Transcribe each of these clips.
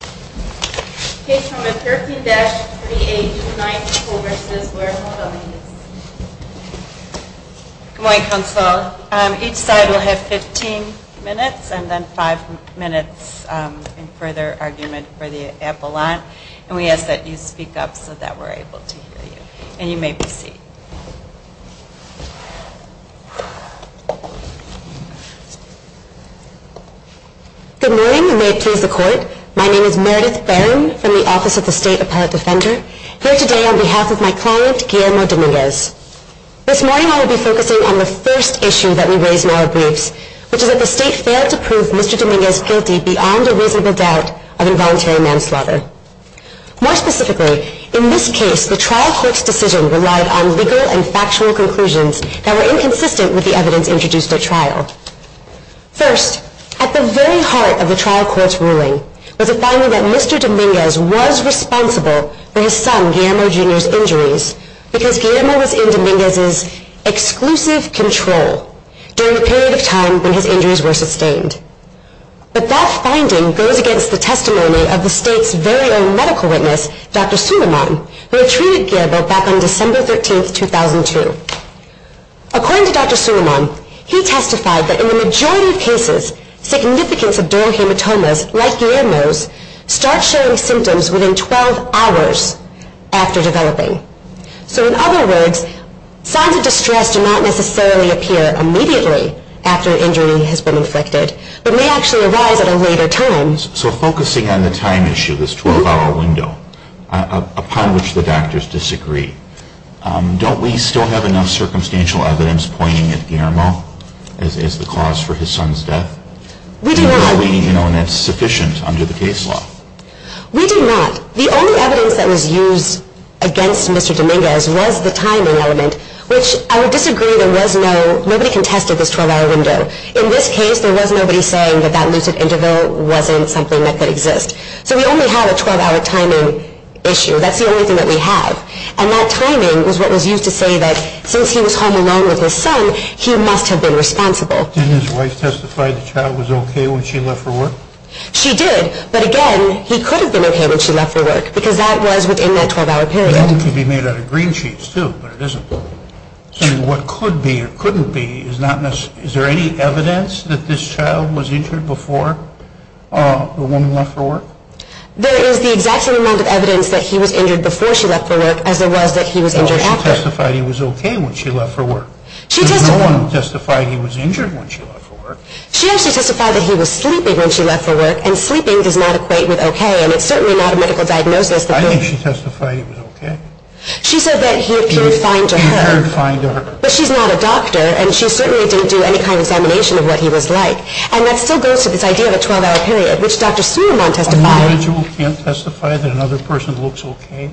Good morning. Each side will have 15 minutes and then 5 minutes in further argument for the appellant. And we ask that you speak up so that we're able to hear you. And you may proceed. Good morning and may it please the court. My name is Meredith Barron from the Office of the State Appellate Defender. Here today on behalf of my client, Guillermo Dominguez. This morning I will be focusing on the first issue that we raise in our briefs, which is that the state failed to prove Mr. Dominguez guilty beyond a reasonable doubt of involuntary manslaughter. More specifically, in this case the trial court's decision relied on legal and factual conclusions that were inconsistent with the evidence introduced at trial. First, at the very heart of the trial court's ruling was a finding that Mr. Dominguez was responsible for his son Guillermo Jr.'s injuries because Guillermo was in Dominguez's exclusive control during a period of time when his injuries were sustained. But that finding goes against the testimony of the state's very own medical witness, Dr. Suleman, who treated Guillermo back on December 13, 2002. According to Dr. Suleman, he testified that in the majority of cases, significance of dermal hematomas, like Guillermo's, start showing symptoms within 12 hours after developing. So in other words, signs of distress do not necessarily appear immediately after an injury has been inflicted, but may actually arise at a later time. So focusing on the time issue, this 12-hour window, upon which the doctors disagree, don't we still have enough circumstantial evidence pointing at Guillermo as the cause for his son's death? We do not. And that's sufficient under the case law? We do not. The only evidence that was used against Mr. Dominguez was the timing element, which I would disagree. There was no—nobody contested this 12-hour window. In this case, there was nobody saying that that lucid interval wasn't something that could exist. So we only have a 12-hour timing issue. That's the only thing that we have. And that timing was what was used to say that since he was home alone with his son, he must have been responsible. Didn't his wife testify the child was okay when she left for work? She did. But again, he could have been okay when she left for work because that was within that 12-hour period. But that could be made out of green sheets too, but it isn't. So what could be or couldn't be is not necessarily—is there any evidence that this child was injured before the woman left for work? There is the exact same amount of evidence that he was injured before she left for work as there was that he was injured after. Well, she testified he was okay when she left for work. She testified— There was no one who testified he was injured when she left for work. She actually testified that he was sleeping when she left for work, and sleeping does not equate with okay, and it's certainly not a medical diagnosis that— I think she testified he was okay. She said that he appeared fine to her. He appeared fine to her. But she's not a doctor, and she certainly didn't do any kind of examination of what he was like. And that still goes to this idea of a 12-hour period, which Dr. Sunderman testified— An individual can't testify that another person looks okay?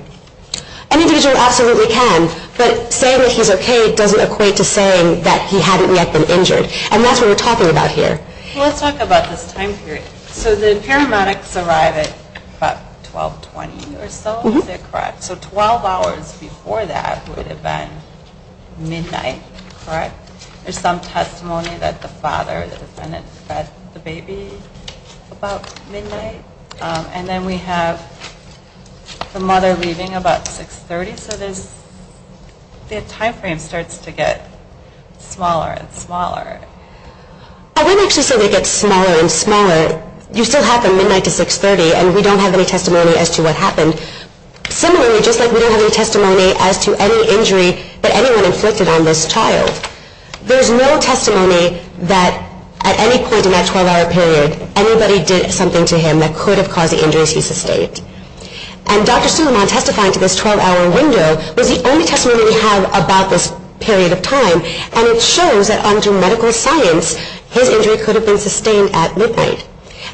An individual absolutely can, but saying that he's okay doesn't equate to saying that he hadn't yet been injured. And that's what we're talking about here. Let's talk about this time period. So the paramedics arrive at about 1220 or so, is that correct? Mm-hmm. So 12 hours before that would have been midnight, correct? There's some testimony that the father, the defendant, fed the baby about midnight. And then we have the mother leaving about 630, so the time frame starts to get smaller and smaller. I wouldn't actually say it gets smaller and smaller. You still have from midnight to 630, and we don't have any testimony as to what happened. Similarly, just like we don't have any testimony as to any injury that anyone inflicted on this child, there's no testimony that at any point in that 12-hour period, anybody did something to him that could have caused the injuries he sustained. And Dr. Suleiman testifying to this 12-hour window was the only testimony we have about this period of time, and it shows that under medical science, his injury could have been sustained at midnight.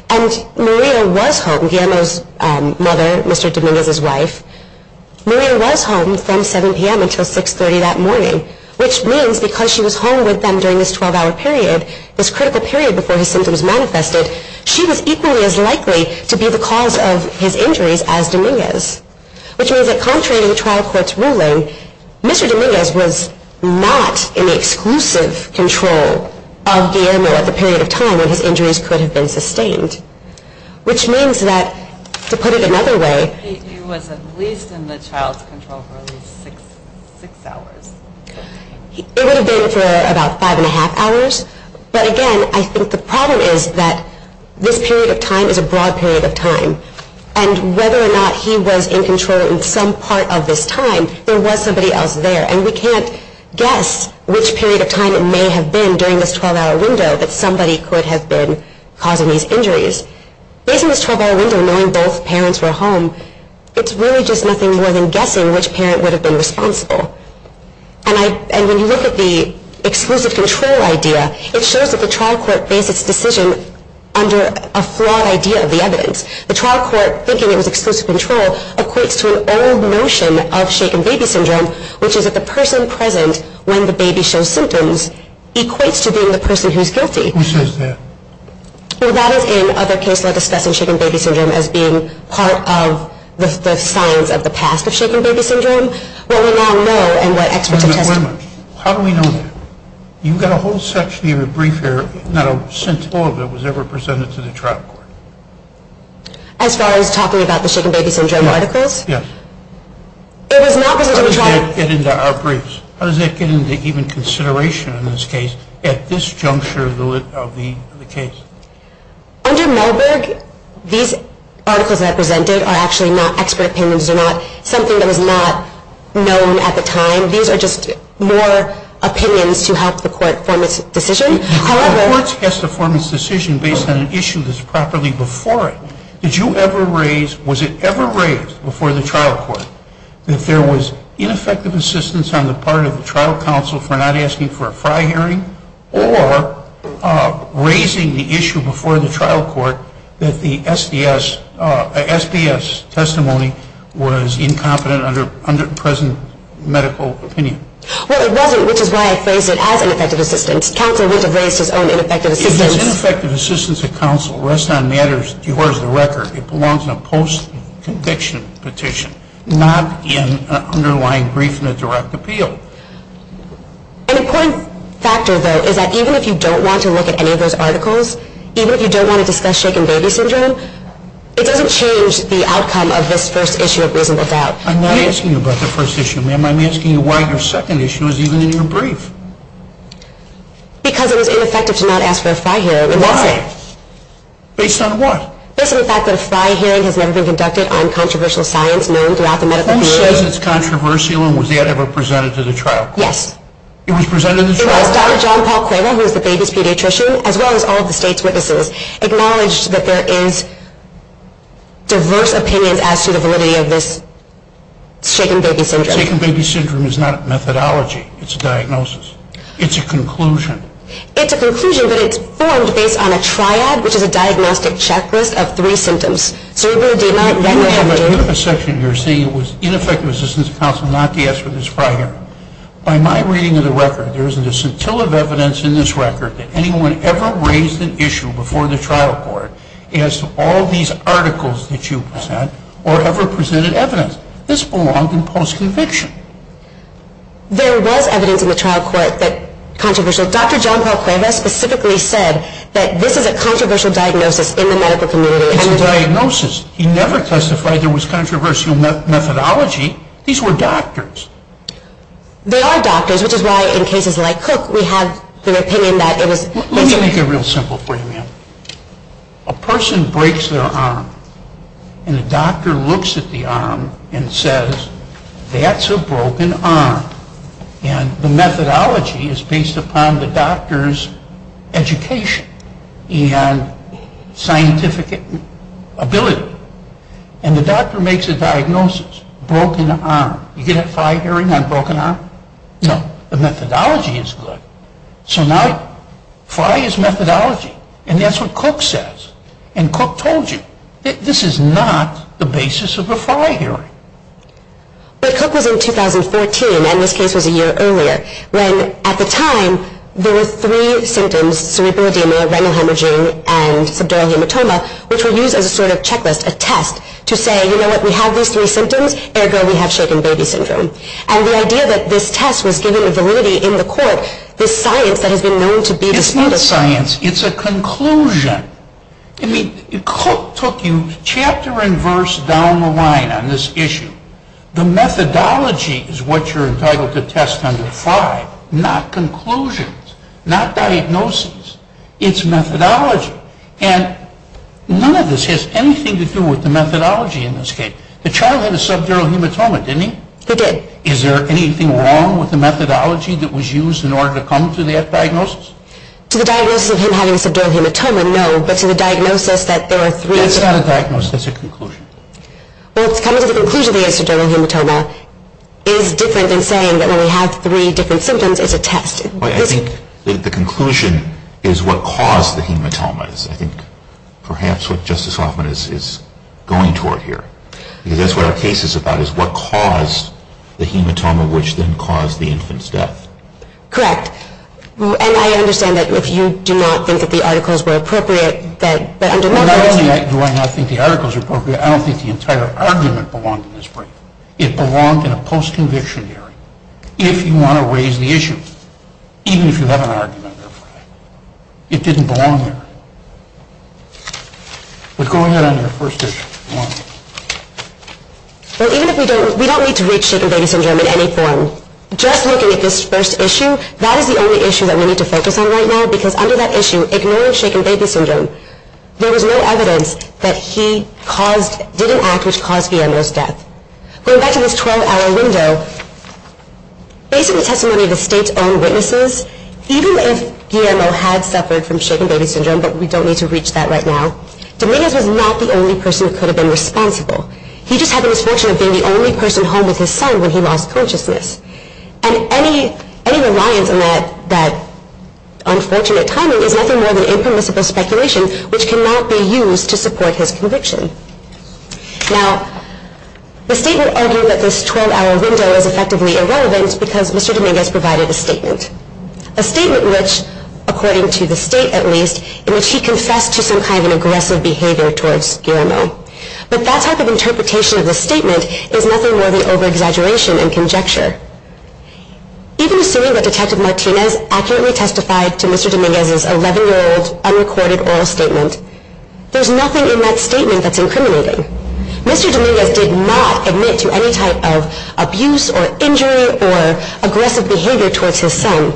And Maria was home, Guillermo's mother, Mr. Dominguez's wife. Maria was home from 7 p.m. until 630 that morning, which means because she was home with them during this 12-hour period, this critical period before his symptoms manifested, she was equally as likely to be the cause of his injuries as Dominguez, which means that contrary to the trial court's ruling, Mr. Dominguez was not in the exclusive control of Guillermo at the period of time when his injuries could have been sustained, which means that, to put it another way... He was at least in the child's control for at least six hours. It would have been for about five and a half hours, but again, I think the problem is that this period of time is a broad period of time, and whether or not he was in control in some part of this time, there was somebody else there, and we can't guess which period of time it may have been during this 12-hour window that somebody could have been causing these injuries. Based on this 12-hour window, knowing both parents were home, it's really just nothing more than guessing which parent would have been responsible. And when you look at the exclusive control idea, it shows that the trial court based its decision under a flawed idea of the evidence. The trial court, thinking it was exclusive control, equates to an old notion of shaken baby syndrome, which is that the person present when the baby shows symptoms equates to being the person who's guilty. Who says that? Well, that is in other case law discussing shaken baby syndrome as being part of the signs of the past of shaken baby syndrome. What we now know and what experts have tested. Wait a minute. How do we know that? You've got a whole section of your brief here, not a cent of it was ever presented to the trial court. As far as talking about the shaken baby syndrome articles? Yes. It was not presented to the trial court. How does that get into our briefs? How does that get into even consideration in this case at this juncture of the case? Under Marburg, these articles that I presented are actually not expert opinions. These are not something that was not known at the time. These are just more opinions to help the court form its decision. The court has to form its decision based on an issue that's properly before it. Did you ever raise, was it ever raised before the trial court, that there was ineffective assistance on the part of the trial counsel for not asking for a fry hearing or raising the issue before the trial court that the SDS testimony was incompetent under present medical opinion? Well, it wasn't, which is why I phrased it as ineffective assistance. Counsel would have raised his own ineffective assistance. If there's ineffective assistance at counsel, rest on matters divorce the record. It belongs in a post-conviction petition, not in an underlying brief in a direct appeal. An important factor, though, is that even if you don't want to look at any of those articles, even if you don't want to discuss shaken baby syndrome, it doesn't change the outcome of this first issue of reasonable doubt. I'm not asking you about the first issue, ma'am. I'm asking you why your second issue is even in your brief. Because it was ineffective to not ask for a fry hearing. Why? Based on what? Based on the fact that a fry hearing has never been conducted on controversial science known throughout the medical field. It says it's controversial, and was that ever presented to the trial court? Yes. It was presented to the trial court? It was. Dr. John Paul Quayle, who is the baby's pediatrician, as well as all of the state's witnesses, acknowledged that there is diverse opinions as to the validity of this shaken baby syndrome. Shaken baby syndrome is not a methodology. It's a diagnosis. It's a conclusion. It's a conclusion, but it's formed based on a triad, which is a diagnostic checklist of three symptoms, cerebral edema, retinopathy. The other section you're saying it was ineffective assistance counsel not to ask for this fry hearing. By my reading of the record, there isn't a scintilla of evidence in this record that anyone ever raised an issue before the trial court as to all these articles that you present or ever presented evidence. This belonged in post-conviction. There was evidence in the trial court that controversial. Dr. John Paul Quayle specifically said that this is a controversial diagnosis in the medical community. It's a diagnosis. He never testified there was controversial methodology. These were doctors. They are doctors, which is why in cases like Cook we have the opinion that it was. Let me make it real simple for you, ma'am. A person breaks their arm, and the doctor looks at the arm and says, that's a broken arm. And the methodology is based upon the doctor's education and scientific ability. And the doctor makes a diagnosis, broken arm. You get a fry hearing on broken arm? No. The methodology is good. So now fry is methodology, and that's what Cook says. And Cook told you, this is not the basis of a fry hearing. But Cook was in 2014, and this case was a year earlier, when at the time there were three symptoms, cerebral edema, renal hemorrhaging, and subdural hematoma, which were used as a sort of checklist, a test, to say, you know what, we have these three symptoms, ergo we have shaken baby syndrome. And the idea that this test was given the validity in the court, this science that has been known to be disproportionate. It's not science. It's a conclusion. I mean, Cook took you chapter and verse down the line on this issue. The methodology is what you're entitled to test under fry, not conclusions, not diagnosis. It's methodology. And none of this has anything to do with the methodology in this case. The child had a subdural hematoma, didn't he? He did. Is there anything wrong with the methodology that was used in order to come to that diagnosis? To the diagnosis of him having a subdural hematoma, no. But to the diagnosis that there are three symptoms. That's not a diagnosis. That's a conclusion. Well, coming to the conclusion that he has a subdural hematoma is different than saying that when we have three different symptoms, it's a test. I think the conclusion is what caused the hematomas. I think perhaps what Justice Hoffman is going toward here, because that's what our case is about, is what caused the hematoma, which then caused the infant's death. Correct. Correct. And I understand that if you do not think that the articles were appropriate, that under my jurisdiction... Do I not think the articles are appropriate? I don't think the entire argument belonged in this brief. It belonged in a post-conviction hearing. If you want to raise the issue, even if you have an argument, it didn't belong there. But go ahead on your first issue. Well, even if we don't, we don't need to reach shaken baby syndrome in any form. Just looking at this first issue, that is the only issue that we need to focus on right now, because under that issue, ignoring shaken baby syndrome, there was no evidence that he didn't act which caused Guillermo's death. Going back to this 12-hour window, based on the testimony of the State's own witnesses, even if Guillermo had suffered from shaken baby syndrome, but we don't need to reach that right now, Dominguez was not the only person who could have been responsible. He just had the misfortune of being the only person home with his son when he lost consciousness. And any reliance on that unfortunate timing is nothing more than impermissible speculation which cannot be used to support his conviction. Now, the State would argue that this 12-hour window is effectively irrelevant because Mr. Dominguez provided a statement. A statement which, according to the State at least, in which he confessed to some kind of an aggressive behavior towards Guillermo. But that type of interpretation of the statement is nothing more than over-exaggeration and conjecture. Even assuming that Detective Martinez accurately testified to Mr. Dominguez's 11-year-old unrecorded oral statement, there's nothing in that statement that's incriminating. Mr. Dominguez did not admit to any type of abuse or injury or aggressive behavior towards his son.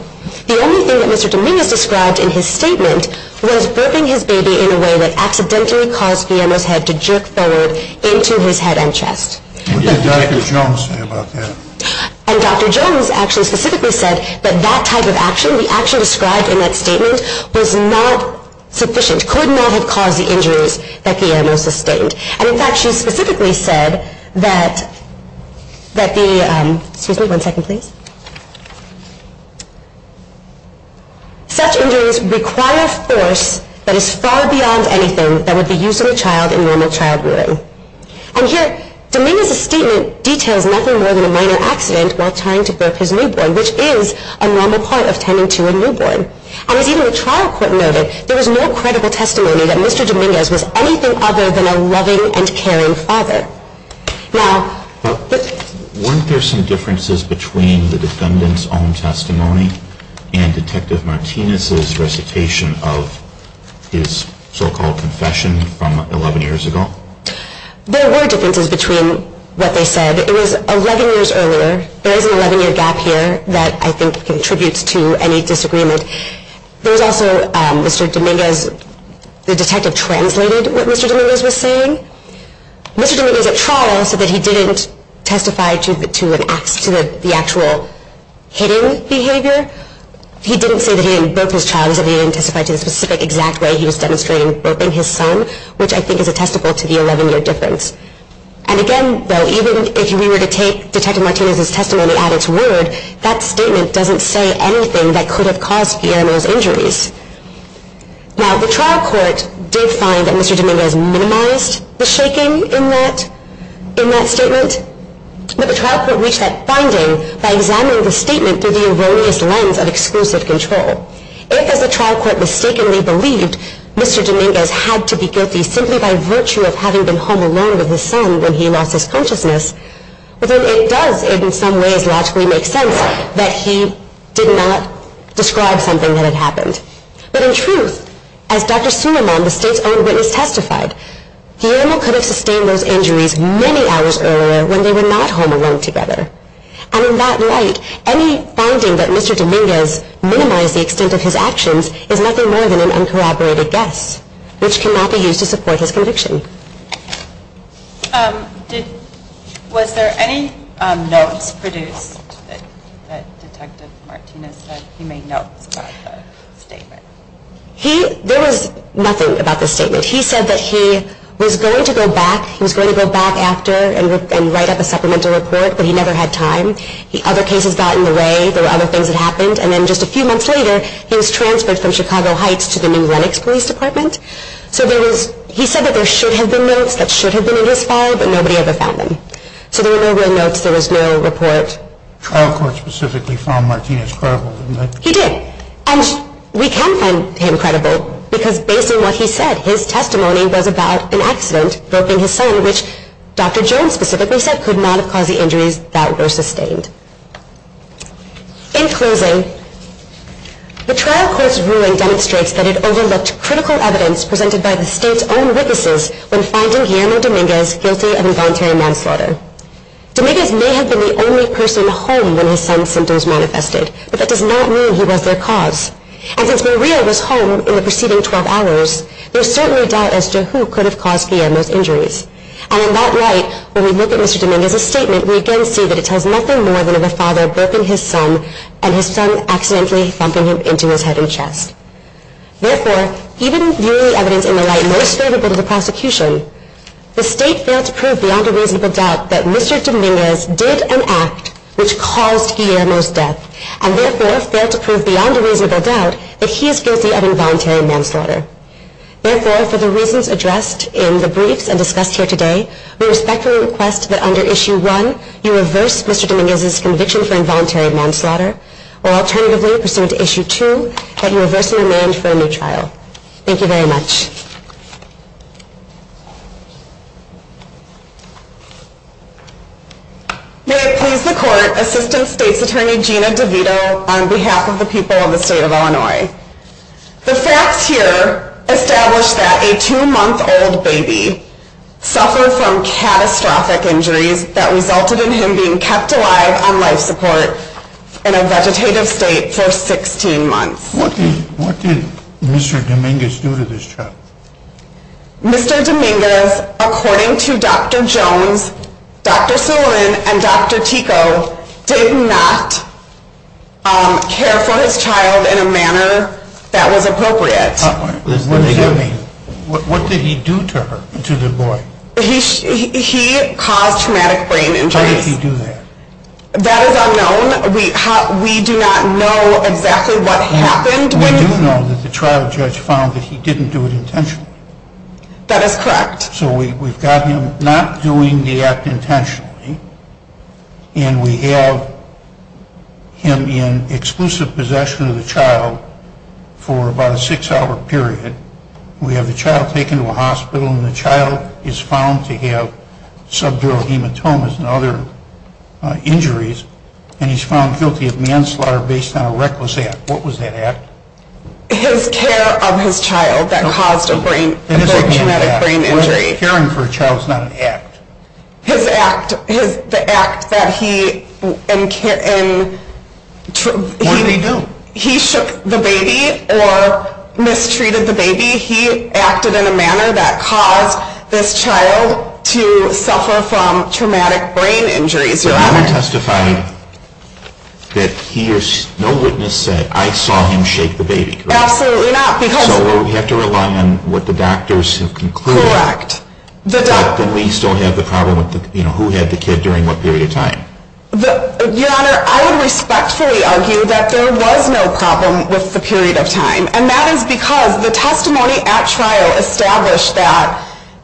The only thing that Mr. Dominguez described in his statement was burping his baby in a way that accidentally caused Guillermo's head to jerk forward into his head and chest. What did Dr. Jones say about that? And Dr. Jones actually specifically said that that type of action, the action described in that statement, was not sufficient, could not have caused the injuries that Guillermo sustained. And in fact, she specifically said that the, excuse me, one second please. Such injuries require force that is far beyond anything that would be used on a child in normal child rearing. And here, Dominguez's statement details nothing more than a minor accident while trying to burp his newborn, which is a normal part of tending to a newborn. And as even the trial court noted, there was no credible testimony that Mr. Dominguez was anything other than a loving and caring father. Now, weren't there some differences between the defendant's own testimony and Detective Martinez's recitation of his so-called confession from 11 years ago? There were differences between what they said. It was 11 years earlier. There is an 11-year gap here that I think contributes to any disagreement. There was also, Mr. Dominguez, the detective translated what Mr. Dominguez was saying. Mr. Dominguez at trial said that he didn't testify to the actual hitting behavior. He didn't say that he didn't burp his child. He said he didn't testify to the specific exact way he was demonstrating burping his son, which I think is attestable to the 11-year difference. And again, though, even if we were to take Detective Martinez's testimony at its word, that statement doesn't say anything that could have caused Guillermo's injuries. Now, the trial court did find that Mr. Dominguez minimized the shaking in that statement, but the trial court reached that finding by examining the statement through the erroneous lens of exclusive control. If, as the trial court mistakenly believed, Mr. Dominguez had to be guilty simply by virtue of having been home alone with his son when he lost his consciousness, then it does in some ways logically make sense that he did not describe something that had happened. But in truth, as Dr. Suleman, the state's own witness, testified, Guillermo could have sustained those injuries many hours earlier when they were not home alone together. And in that light, any finding that Mr. Dominguez minimized the extent of his actions is nothing more than an uncorroborated guess, which cannot be used to support his conviction. Was there any notes produced that Detective Martinez said he made notes about the statement? There was nothing about the statement. He said that he was going to go back, he was going to go back after and write up a supplemental report, but he never had time. Other cases got in the way, there were other things that happened, and then just a few months later he was transferred from Chicago Heights to the new Lenox Police Department. So there was, he said that there should have been notes that should have been in his file, but nobody ever found them. So there were no real notes, there was no report. The trial court specifically found Martinez credible, didn't they? He did. And we can find him credible because based on what he said, his testimony was about an accident, hurting his son, which Dr. Jones specifically said could not have caused the injuries that were sustained. In closing, the trial court's ruling demonstrates that it overlooked critical evidence presented by the state's own witnesses when finding Guillermo Dominguez guilty of involuntary manslaughter. Dominguez may have been the only person home when his son's symptoms manifested, but that does not mean he was their cause. And since Murillo was home in the preceding 12 hours, there is certainly doubt as to who could have caused Guillermo's injuries. And we again see that it tells nothing more than of a father burping his son and his son accidentally thumping him into his head and chest. Therefore, even viewing the evidence in the light most favorable to the prosecution, the state failed to prove beyond a reasonable doubt that Mr. Dominguez did an act which caused Guillermo's death and therefore failed to prove beyond a reasonable doubt that he is guilty of involuntary manslaughter. Therefore, for the reasons addressed in the briefs and discussed here today, we respectfully request that under Issue 1, you reverse Mr. Dominguez's conviction for involuntary manslaughter, or alternatively, pursuant to Issue 2, that you reverse the demand for a new trial. Thank you very much. May it please the Court, Assistant State's Attorney Gina DeVito, on behalf of the people of the state of Illinois. The facts here establish that a two-month-old baby suffered from catastrophic injuries that resulted in him being kept alive on life support in a vegetative state for 16 months. What did Mr. Dominguez do to this child? Mr. Dominguez, according to Dr. Jones, Dr. Sullivan and Dr. Tico, did not care for his child in a manner that was appropriate. What does that mean? What did he do to the boy? He caused traumatic brain injuries. How did he do that? That is unknown. We do not know exactly what happened. We do know that the trial judge found that he didn't do it intentionally. That is correct. So we've got him not doing the act intentionally, and we have him in exclusive possession of the child for about a six-hour period. We have the child taken to a hospital, and the child is found to have subdural hematomas and other injuries, and he's found guilty of manslaughter based on a reckless act. What was that act? His care of his child that caused a traumatic brain injury. Caring for a child is not an act. His act, the act that he… What did he do? He shook the baby or mistreated the baby. He acted in a manner that caused this child to suffer from traumatic brain injuries, Your Honor. Your Honor, you testified that no witness said, I saw him shake the baby, correct? Absolutely not, because… So we have to rely on what the doctors have concluded. Correct. But then we still have the problem with who had the kid during what period of time? Your Honor, I would respectfully argue that there was no problem with the period of time, and that is because the testimony at trial established that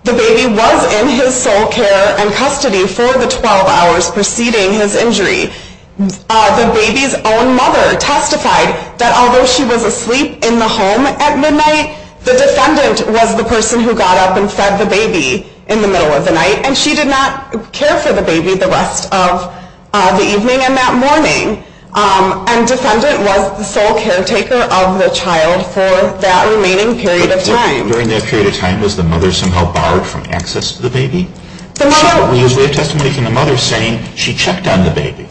the baby was in his sole care and custody for the 12 hours preceding his injury. The baby's own mother testified that although she was asleep in the home at midnight, the defendant was the person who got up and fed the baby in the middle of the night, and she did not care for the baby the rest of the evening and that morning. And defendant was the sole caretaker of the child for that remaining period of time. During that period of time, was the mother somehow barred from access to the baby? We have testimony from the mother saying she checked on the baby.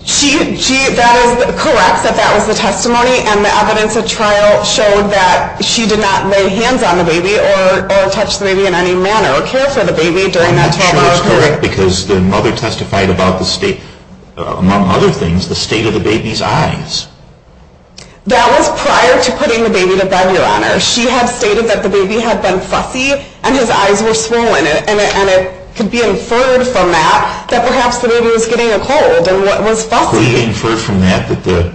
That is correct, that that was the testimony, and the evidence at trial showed that she did not lay hands on the baby or touch the baby in any manner or care for the baby during that time. I'm not sure it's correct because the mother testified about the state, among other things, the state of the baby's eyes. That was prior to putting the baby to bed, Your Honor. She had stated that the baby had been fussy and his eyes were swollen, and it could be inferred from that that perhaps the baby was getting a cold and was fussy. Could it be inferred from that that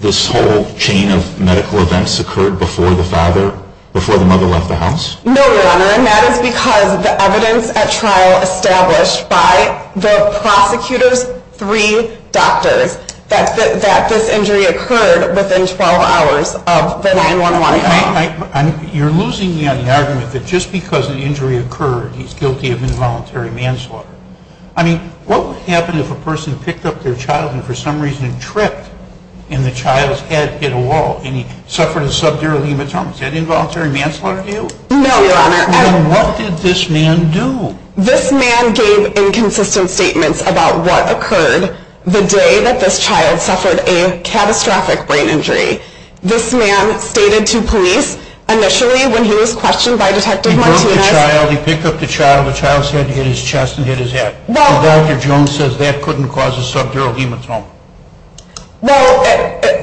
this whole chain of medical events occurred before the father, before the mother left the house? No, Your Honor, and that is because the evidence at trial established by the prosecutor's three doctors that this injury occurred within 12 hours of the 9-1-1 event. You're losing me on the argument that just because an injury occurred, he's guilty of involuntary manslaughter. I mean, what would happen if a person picked up their child and for some reason tripped and the child's head hit a wall and he suffered a subdural hematoma? Is that involuntary manslaughter to you? No, Your Honor. Then what did this man do? This man gave inconsistent statements about what occurred the day that this child suffered a catastrophic brain injury. This man stated to police initially when he was questioned by Detective Martinez He picked up the child, the child's head hit his chest and hit his head. Dr. Jones says that couldn't cause a subdural hematoma. Well,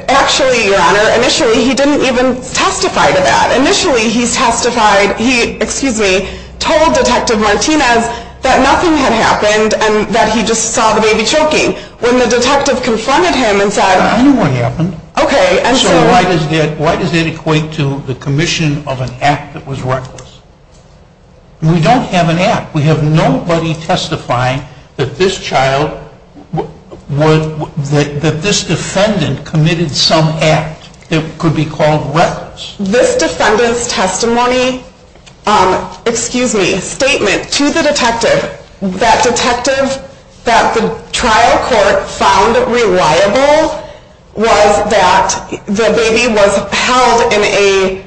actually, Your Honor, initially he didn't even testify to that. Initially he testified, he, excuse me, told Detective Martinez that nothing had happened and that he just saw the baby choking. When the detective confronted him and said I know what happened. Okay. So why does that equate to the commission of an act that was reckless? We don't have an act. We have nobody testifying that this child, that this defendant committed some act that could be called reckless. This defendant's testimony, excuse me, statement to the detective that the trial court found reliable was that the baby was held in a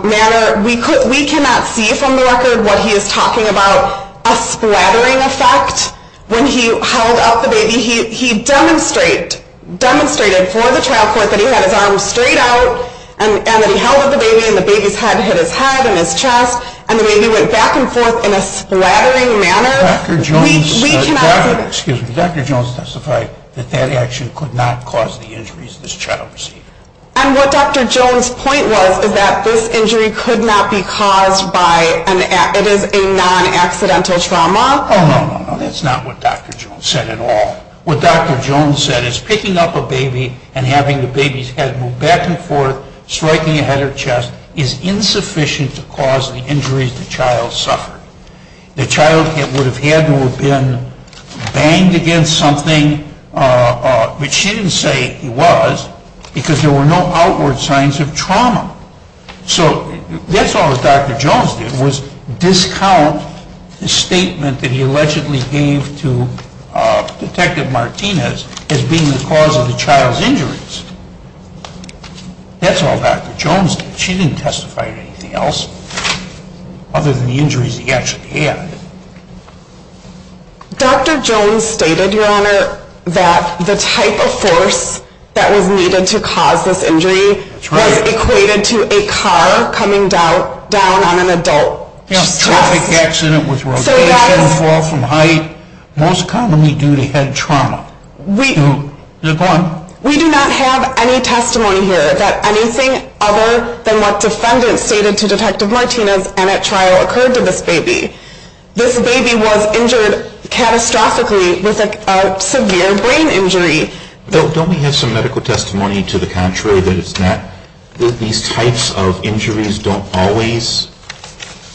manner we cannot see from the record what he is talking about a splattering effect when he held up the baby. He demonstrated for the trial court that he had his arms straight out and that he held up the baby and the baby's head hit his head and his chest and the baby went back and forth in a splattering manner. Dr. Jones testified that that action could not cause the injuries of this child. And what Dr. Jones' point was is that this injury could not be caused by, it is a non-accidental trauma. Oh, no, no, no. That's not what Dr. Jones said at all. What Dr. Jones said is picking up a baby and having the baby's head move back and forth, striking a head or chest is insufficient to cause the injuries the child suffered. The child would have had to have been banged against something, which she didn't say he was, because there were no outward signs of trauma. So that's all that Dr. Jones did was discount the statement that he allegedly gave to Detective Martinez as being the cause of the child's injuries. That's all Dr. Jones did. She didn't testify to anything else other than the injuries he actually had. Dr. Jones stated, Your Honor, that the type of force that was needed to cause this injury was equated to a car coming down on an adult. A traffic accident with rotation, fall from height, most commonly due to head trauma. We do not have any testimony here that anything other than what defendants stated to Detective Martinez and at trial occurred to this baby. This baby was injured catastrophically with a severe brain injury. Don't we have some medical testimony to the contrary that it's not, that these types of injuries don't always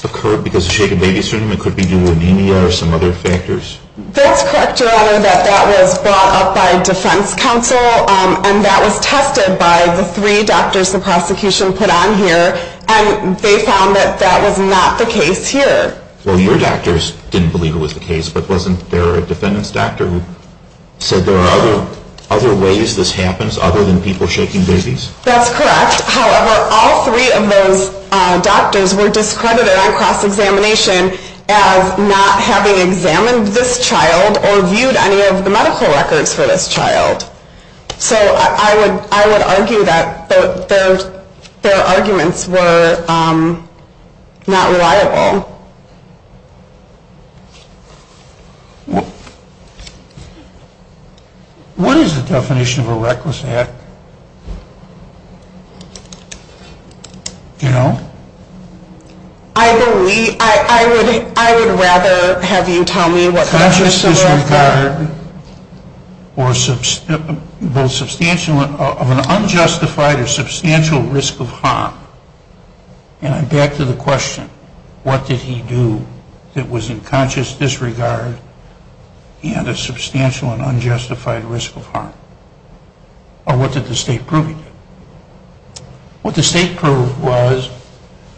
occur because of shaken baby syndrome? It could be due to anemia or some other factors? That's correct, Your Honor, that that was brought up by defense counsel, and that was tested by the three doctors the prosecution put on here, and they found that that was not the case here. Well, your doctors didn't believe it was the case, but wasn't there a defendant's doctor who said there are other ways this happens other than people shaking babies? That's correct. However, all three of those doctors were discredited on cross-examination as not having examined this child or viewed any of the medical records for this child. So I would argue that their arguments were not reliable. What is the definition of a reckless act? You know? I would rather have you tell me what reckless is. Conscious disregard of an unjustified or substantial risk of harm. And I'm back to the question. What did he do that was in conscious disregard and a substantial and unjustified risk of harm? Or what did the state prove he did? What the state proved was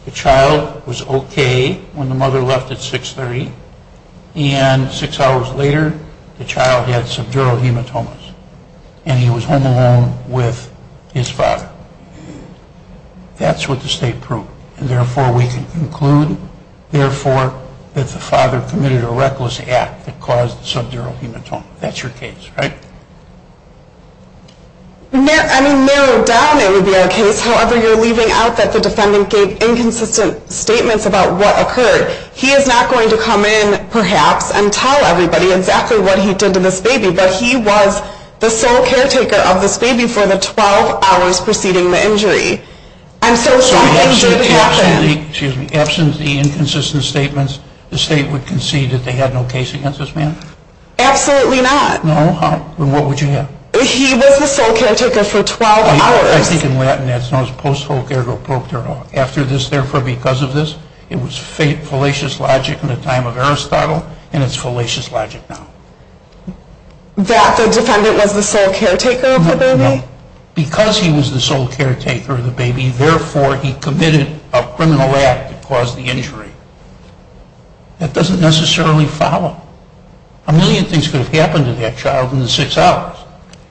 the child was okay when the mother left at 630, and six hours later the child had subdural hematomas, and he was home alone with his father. That's what the state proved. And, therefore, we can conclude, therefore, that the father committed a reckless act that caused subdural hematoma. That's your case, right? I mean, narrowed down it would be our case. However, you're leaving out that the defendant gave inconsistent statements about what occurred. He is not going to come in, perhaps, and tell everybody exactly what he did to this baby, but he was the sole caretaker of this baby for the 12 hours preceding the injury. I'm so sorry. It did happen. Excuse me. Absent the inconsistent statements, the state would concede that they had no case against this man? Absolutely not. No? Well, what would you have? He was the sole caretaker for 12 hours. I think in Latin that's known as post folcare pro caro. After this, therefore, because of this, it was fallacious logic in the time of Aristotle, and it's fallacious logic now. That the defendant was the sole caretaker of the baby? No, no, no. Because he was the sole caretaker of the baby, therefore he committed a criminal act that caused the injury. That doesn't necessarily follow. A million things could have happened to that child in the six hours.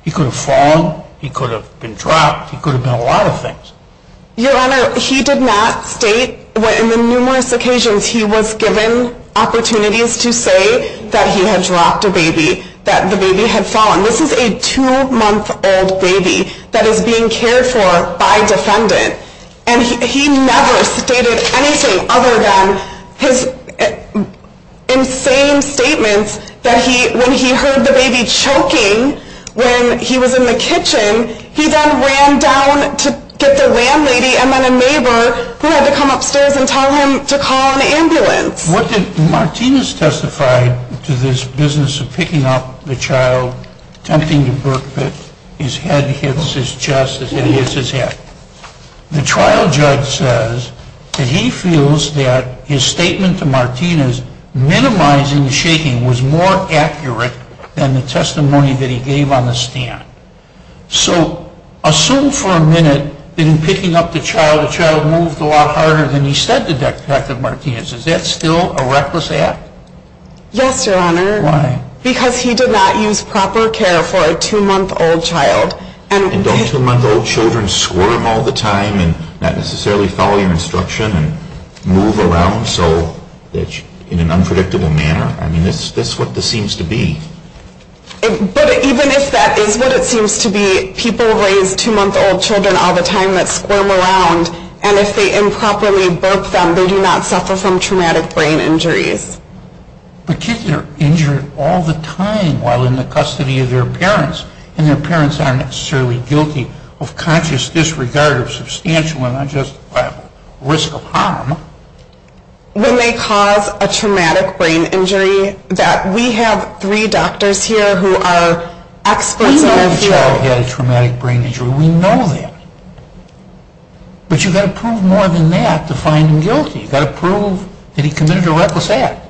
He could have fallen. He could have been dropped. He could have done a lot of things. Your Honor, he did not state what in the numerous occasions he was given opportunities to say that he had dropped a baby, that the baby had fallen. This is a two-month-old baby that is being cared for by a defendant. And he never stated anything other than his insane statements that when he heard the baby choking when he was in the kitchen, he then ran down to get the landlady and then a neighbor who had to come upstairs and tell him to call an ambulance. Martinez testified to this business of picking up the child, attempting to burp it. His head hits his chest. It hits his head. The trial judge says that he feels that his statement to Martinez minimizing the shaking was more accurate than the testimony that he gave on the stand. So assume for a minute that in picking up the child, the child moved a lot harder than he said Detective Martinez. Is that still a reckless act? Yes, Your Honor. Why? Because he did not use proper care for a two-month-old child. And don't two-month-old children squirm all the time and not necessarily follow your instruction and move around in an unpredictable manner? I mean, that's what this seems to be. But even if that is what it seems to be, people raise two-month-old children all the time that squirm around, and if they improperly burp them, they do not suffer from traumatic brain injuries. But kids are injured all the time while in the custody of their parents, and their parents aren't necessarily guilty of conscious disregard or substantial and not just risk of harm. When they cause a traumatic brain injury, that we have three doctors here who are experts on the field. We know the child had a traumatic brain injury. We know that. But you've got to prove more than that to find him guilty. You've got to prove that he committed a reckless act.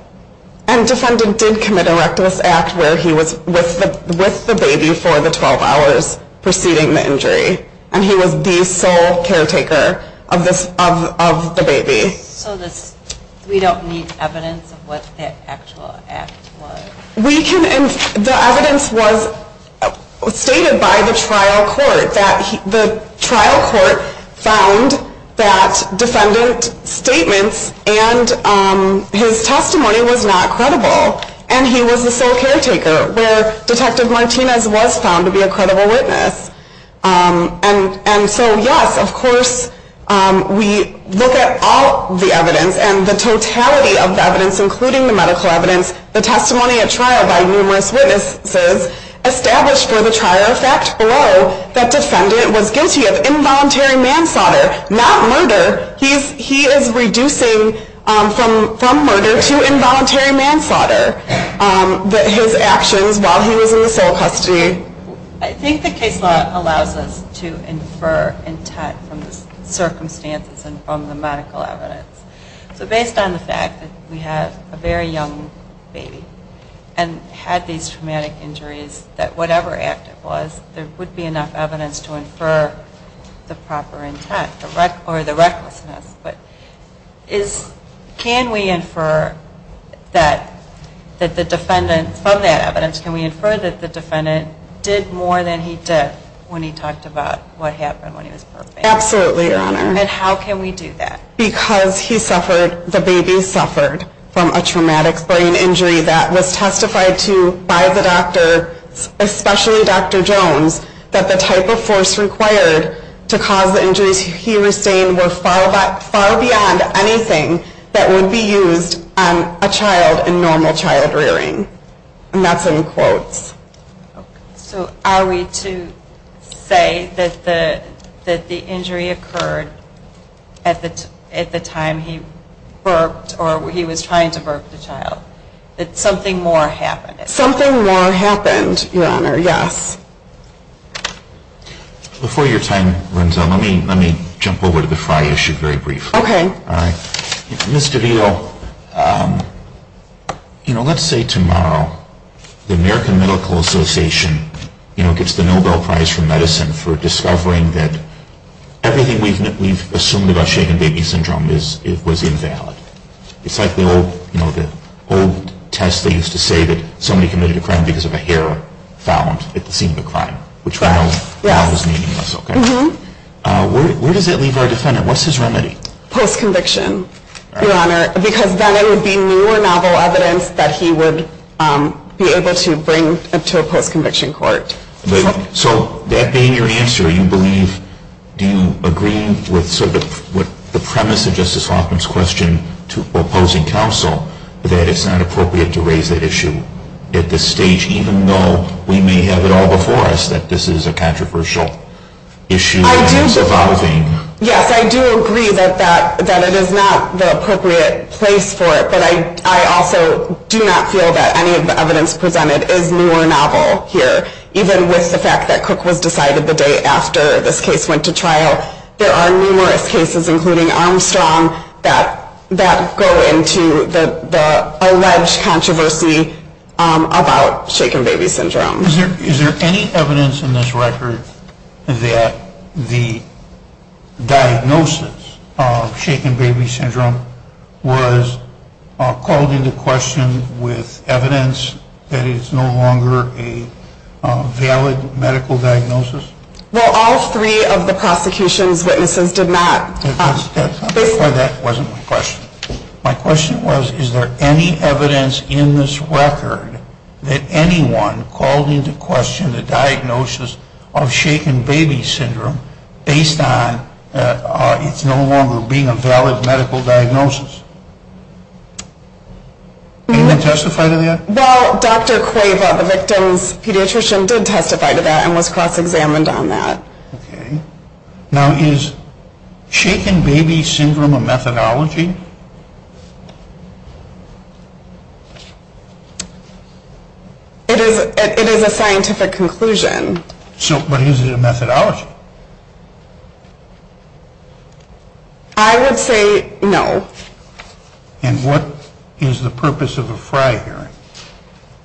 And defendant did commit a reckless act where he was with the baby for the 12 hours preceding the injury, and he was the sole caretaker of the baby. So we don't need evidence of what the actual act was? The evidence was stated by the trial court. The trial court found that defendant's statements and his testimony was not credible, and he was the sole caretaker, where Detective Martinez was found to be a credible witness. And so, yes, of course, we look at all the evidence and the totality of the evidence, including the medical evidence, the testimony at trial by numerous witnesses, established for the trier effect below that defendant was guilty of involuntary manslaughter, not murder. He is reducing from murder to involuntary manslaughter, his actions while he was in the sole custody. I think the case law allows us to infer intent from the circumstances and from the medical evidence. So based on the fact that we have a very young baby and had these traumatic injuries, that whatever act it was, there would be enough evidence to infer the proper intent or the recklessness. But can we infer that the defendant, from that evidence, can we infer that the defendant did more than he did when he talked about what happened when he was birthed? Absolutely, Your Honor. And how can we do that? Because he suffered, the baby suffered, from a traumatic brain injury that was testified to by the doctor, especially Dr. Jones, that the type of force required to cause the injuries he was saying in normal child rearing. And that's in quotes. So are we to say that the injury occurred at the time he birthed or he was trying to birth the child, that something more happened? Something more happened, Your Honor, yes. Before your time runs out, let me jump over to the F.R.I. issue very briefly. Okay. Ms. DeVito, let's say tomorrow the American Medical Association gets the Nobel Prize for Medicine for discovering that everything we've assumed about shaken baby syndrome was invalid. It's like the old test that used to say that somebody committed a crime because of a hair found at the scene of a crime, which we know now is meaningless. Where does that leave our defendant? What's his remedy? Post-conviction, Your Honor, because then it would be newer novel evidence that he would be able to bring to a post-conviction court. So that being your answer, do you agree with sort of the premise of Justice Hoffman's question to opposing counsel that it's not appropriate to raise that issue at this stage, even though we may have it all before us that this is a controversial issue that's evolving? Yes, I do agree that it is not the appropriate place for it, but I also do not feel that any of the evidence presented is newer novel here, even with the fact that Cook was decided the day after this case went to trial. There are numerous cases, including Armstrong, that go into the alleged controversy about shaken baby syndrome. Is there any evidence in this record that the diagnosis of shaken baby syndrome was called into question with evidence that it is no longer a valid medical diagnosis? Well, all three of the prosecution's witnesses did not. That wasn't my question. My question was, is there any evidence in this record that anyone called into question the diagnosis of shaken baby syndrome based on it's no longer being a valid medical diagnosis? Anyone testify to that? Well, Dr. Cueva, the victim's pediatrician, did testify to that and was cross-examined on that. Okay. Now, is shaken baby syndrome a methodology? It is a scientific conclusion. But is it a methodology? I would say no. And what is the purpose of a FRY hearing?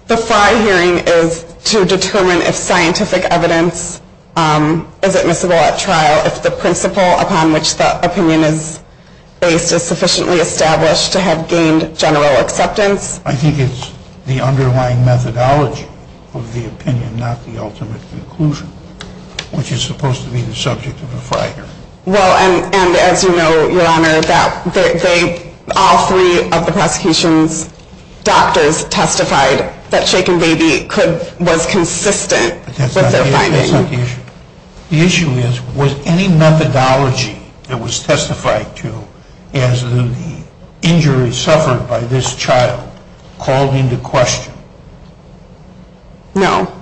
The FRY hearing is to determine if scientific evidence is admissible at trial, if the principle upon which the opinion is based is sufficiently established to have gained general acceptance. I think it's the underlying methodology of the opinion, not the ultimate conclusion, which is supposed to be the subject of a FRY hearing. Well, and as you know, Your Honor, all three of the prosecution's doctors testified that shaken baby was consistent with their finding. That's not the issue. The issue is, was any methodology that was testified to as the injury suffered by this child called into question? No.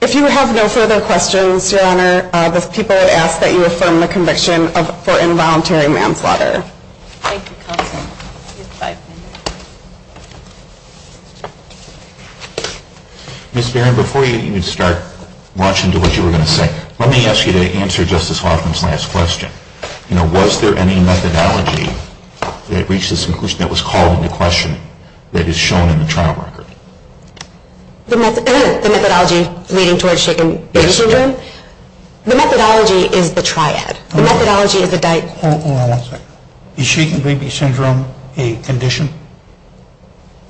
If you have no further questions, Your Honor, the people have asked that you affirm the conviction for involuntary manslaughter. Thank you, Counsel. Ms. Barron, before you even start rushing to what you were going to say, let me ask you to answer Justice Hoffman's last question. You know, was there any methodology that reached this conclusion that was called into question that is shown in the trial record? The methodology leading towards shaken baby syndrome? The methodology is the triad. The methodology is the diagno- Hold on one second. Is shaken baby syndrome a condition?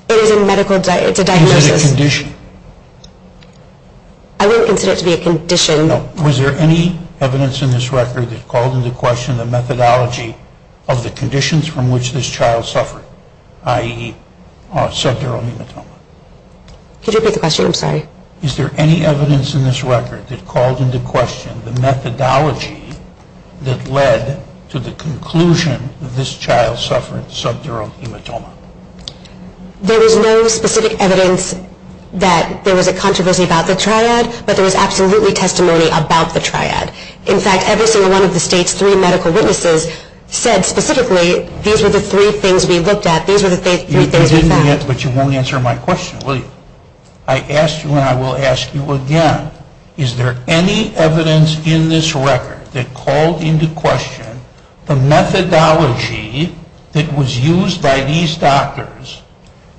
It is a medical diagnosis. Is it a condition? I wouldn't consider it to be a condition. No. Was there any evidence in this record that called into question the methodology of the conditions from which this child suffered, i.e., subdural hematoma? Could you repeat the question? I'm sorry. Is there any evidence in this record that called into question the methodology that led to the conclusion that this child suffered subdural hematoma? There was no specific evidence that there was a controversy about the triad, but there was absolutely testimony about the triad. In fact, every single one of the state's three medical witnesses said specifically these were the three things we looked at. These were the three things we found. You didn't yet, but you won't answer my question, will you? I asked you and I will ask you again. Is there any evidence in this record that called into question the methodology that was used by these doctors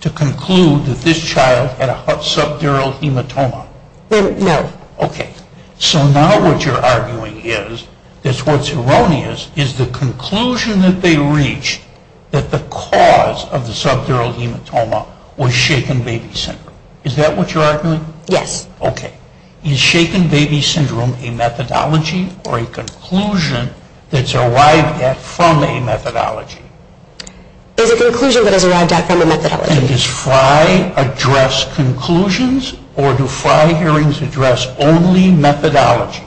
to conclude that this child had a subdural hematoma? No. Okay. So now what you're arguing is that what's erroneous is the conclusion that they reached that the cause of the subdural hematoma was shaken baby syndrome. Is that what you're arguing? Yes. Okay. Is shaken baby syndrome a methodology or a conclusion that's arrived at from a It's a conclusion that has arrived at from a methodology. And does FRI address conclusions or do FRI hearings address only methodology?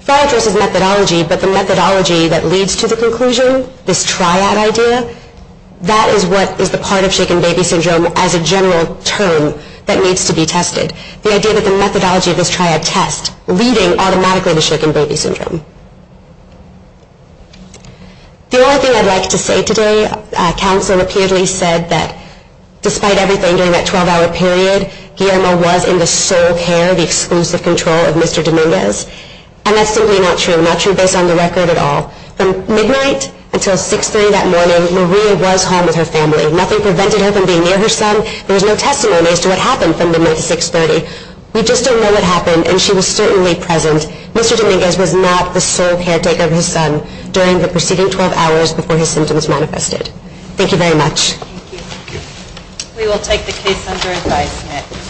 FRI addresses methodology, but the methodology that leads to the conclusion, this triad idea, that is what is the part of shaken baby syndrome as a general term that needs to be tested, the idea that the methodology of this triad test leading automatically to shaken baby syndrome. The only thing I'd like to say today, counsel repeatedly said that despite everything during that 12-hour period, Guillermo was in the sole care, the exclusive control of Mr. Dominguez. And that's simply not true, not true based on the record at all. From midnight until 6.30 that morning, Maria was home with her family. Nothing prevented her from being near her son. There was no testimony as to what happened from midnight to 6.30. We just don't know what happened, and she was certainly present. And Mr. Dominguez was not the sole caretaker of his son during the preceding 12 hours before his symptoms manifested. Thank you very much. Thank you. We will take the case under advisement.